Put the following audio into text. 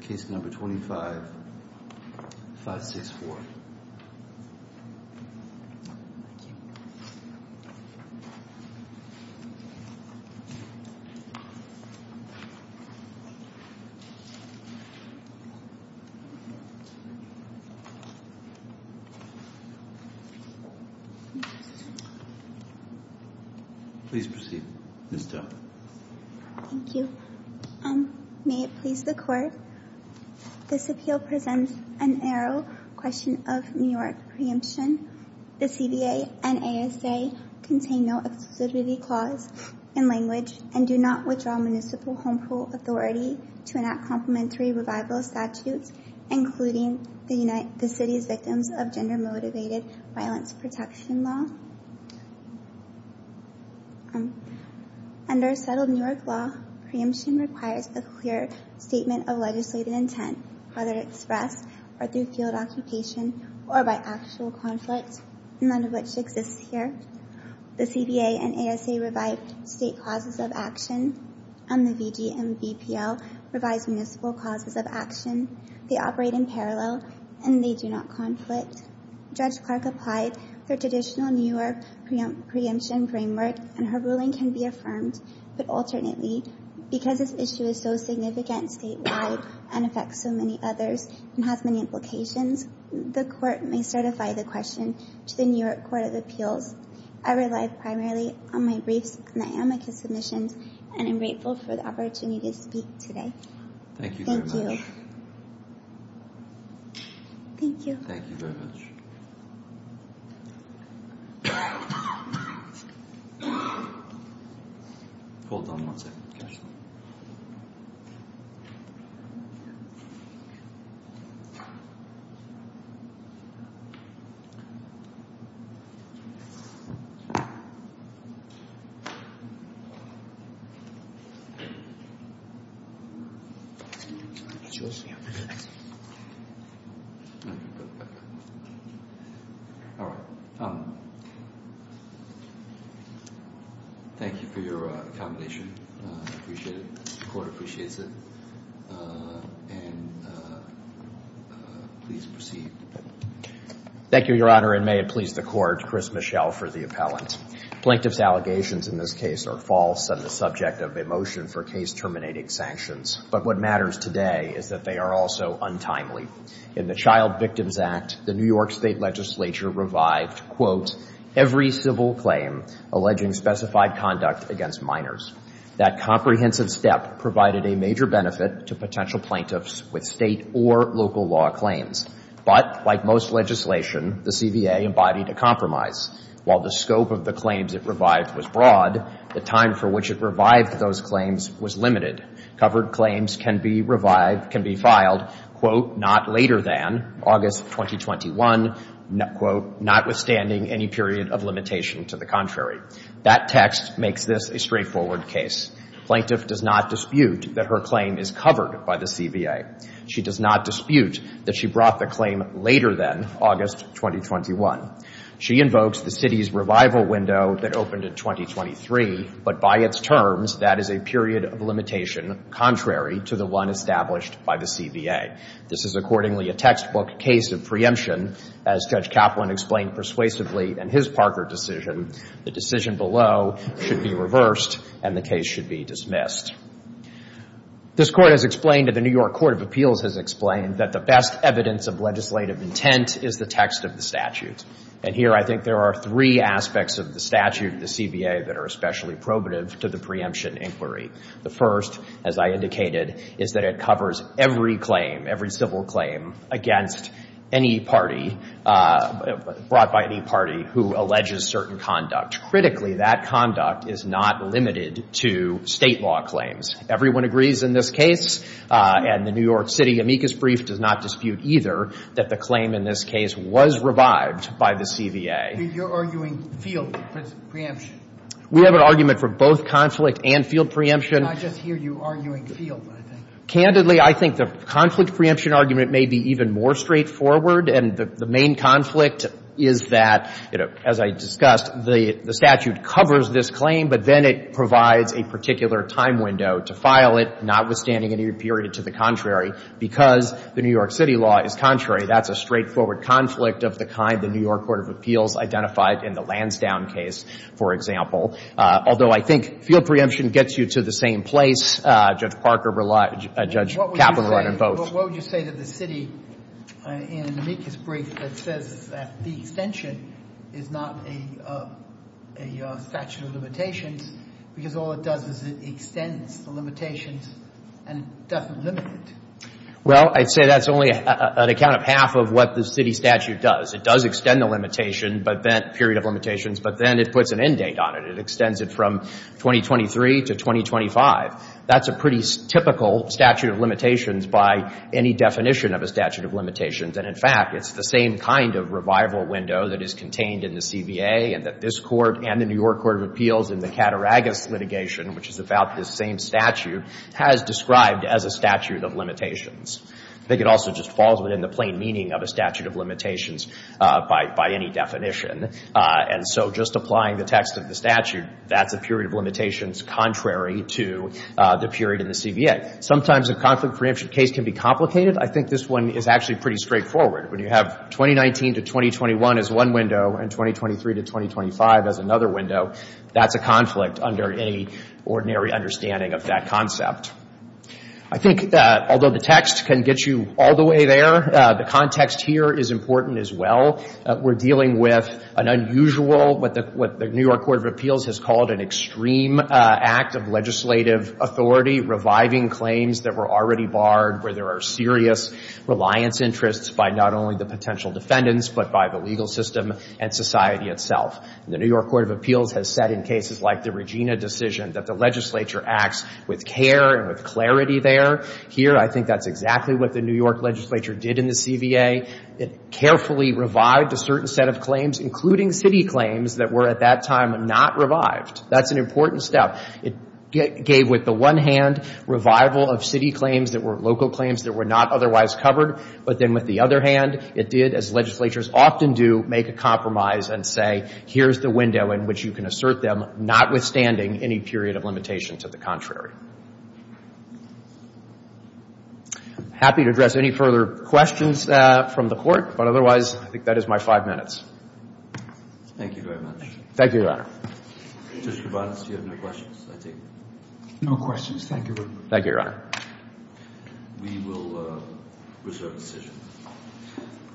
Case No. 25-564 Please proceed, Ms. Doe Thank you May it please the Court, this appeal presents an aero question of New York preemption. The CBA and ASA contain no exclusivity clause in language and do not withdraw municipal home pool authority to enact complementary revival statutes including the city's victims of gender motivated violence protection law. Under settled New York law, preemption requires a clear statement of legislative intent, whether expressed or through field occupation or by actual conflict, none of which exists here. The CBA and ASA revive state clauses of action and the VG and VPL revise municipal clauses of action. They operate in parallel and they do not conflict. Judge Clark applied for traditional New York preemption framework and her ruling can be affirmed, but alternately because this issue is so significant statewide and affects so many others and has many implications, the Court may certify the question to the New York Court of Appeals. I rely primarily on my briefs and the amicus submissions and I am grateful for the opportunity to speak today. Thank you. All right. Thank you for your accommodation. I appreciate it. The Court appreciates it. And please proceed. Thank you, Your Honor, and may it please the Court, Chris Michel for the appellant. Plaintiff's allegations in this case are false and the subject of a violation of the statute is not the plaintiff, but the defendant. The plaintiff's claims was limited. Covered claims can be revived, can be filed, quote, not later than August 2021, quote, notwithstanding any period of limitation to the contrary. That text makes this a straightforward case. Plaintiff does not dispute that her claim is covered by the CBA. She does not dispute that she brought the claim later than August 2021. She invokes the city's limitation contrary to the one established by the CBA. This is accordingly a textbook case of preemption. As Judge Kaplan explained persuasively in his Parker decision, the decision below should be reversed and the case should be dismissed. This Court has explained, and the New York Court of Appeals has explained, that the best evidence of legislative intent is the text of the statute. And here I think there are three aspects of the statute, the CBA, that are especially probative to the preemption inquiry. The first, as I indicated, is that it covers every claim, every civil claim against any party, brought by any party who alleges certain conduct. Critically, that conduct is not limited to State law claims. Everyone agrees in this case, and the New York Court of Appeals does not dispute that her claim in this case was revived by the CBA. You're arguing field preemption. We have an argument for both conflict and field preemption. I just hear you arguing field, I think. Candidly, I think the conflict preemption argument may be even more straightforward, and the main conflict is that, you know, as I discussed, the statute covers this claim, but then it provides a particular time period because the New York City law is contrary. That's a straightforward conflict of the kind the New York Court of Appeals identified in the Lansdowne case, for example, although I think field preemption gets you to the same place. Judge Parker, Judge Kaplan, run and vote. What would you say to the city in an amicus brief that says that the extension is not a statute of limitations because all it does is it extends the limitations and doesn't limit it? Well, I'd say that's only an account of half of what the city statute does. It does extend the limitation, but then period of limitations, but then it puts an end date on it. It extends it from 2023 to 2025. That's a pretty typical statute of limitations by any definition of a statute of limitations, and in fact, it's the same kind of revival window that is contained in the CBA and that this Court and the New York Court of Appeals in the Cataragus litigation, which is about this same statute, has described as a statute of limitations. I think it also just falls within the plain meaning of a statute of limitations by any definition, and so just applying the text of the statute, that's a period of limitations contrary to the period in the CBA. Sometimes a conflict of preemption case can be complicated. I think this one is actually pretty straightforward. When you have 2019 to 2021 as one window and 2023 to 2025 as another window, that's a conflict under any ordinary understanding of that concept. I think that although the text can get you all the way there, the context here is important as well. We're dealing with an unusual, what the New York Court of Appeals has called an extreme act of legislative authority, reviving claims that were already barred where there are serious reliance interests by not only the potential defendants but by the legal system and society itself. The New York Court of Appeals has said in cases like the Regina decision that the legislature acts with care and with clarity there. Here, I think that's exactly what the New York legislature did in the CBA. It carefully revived a certain set of claims, including city claims that were at that time not revived. That's an important step. It gave, with the one hand, revival of city claims that were local claims that were not otherwise covered. But then with the other hand, it did, as legislatures often do, make a compromise and say, here's the window in which you can assert them, notwithstanding any period of limitation to the contrary. I'm happy to address any further questions from the Court. But otherwise, I think that is my five minutes. Thank you very much. Thank you, Your Honor. Judge Kovanes, do you have any questions? No questions. Thank you. Thank you, Your Honor. We will reserve the session.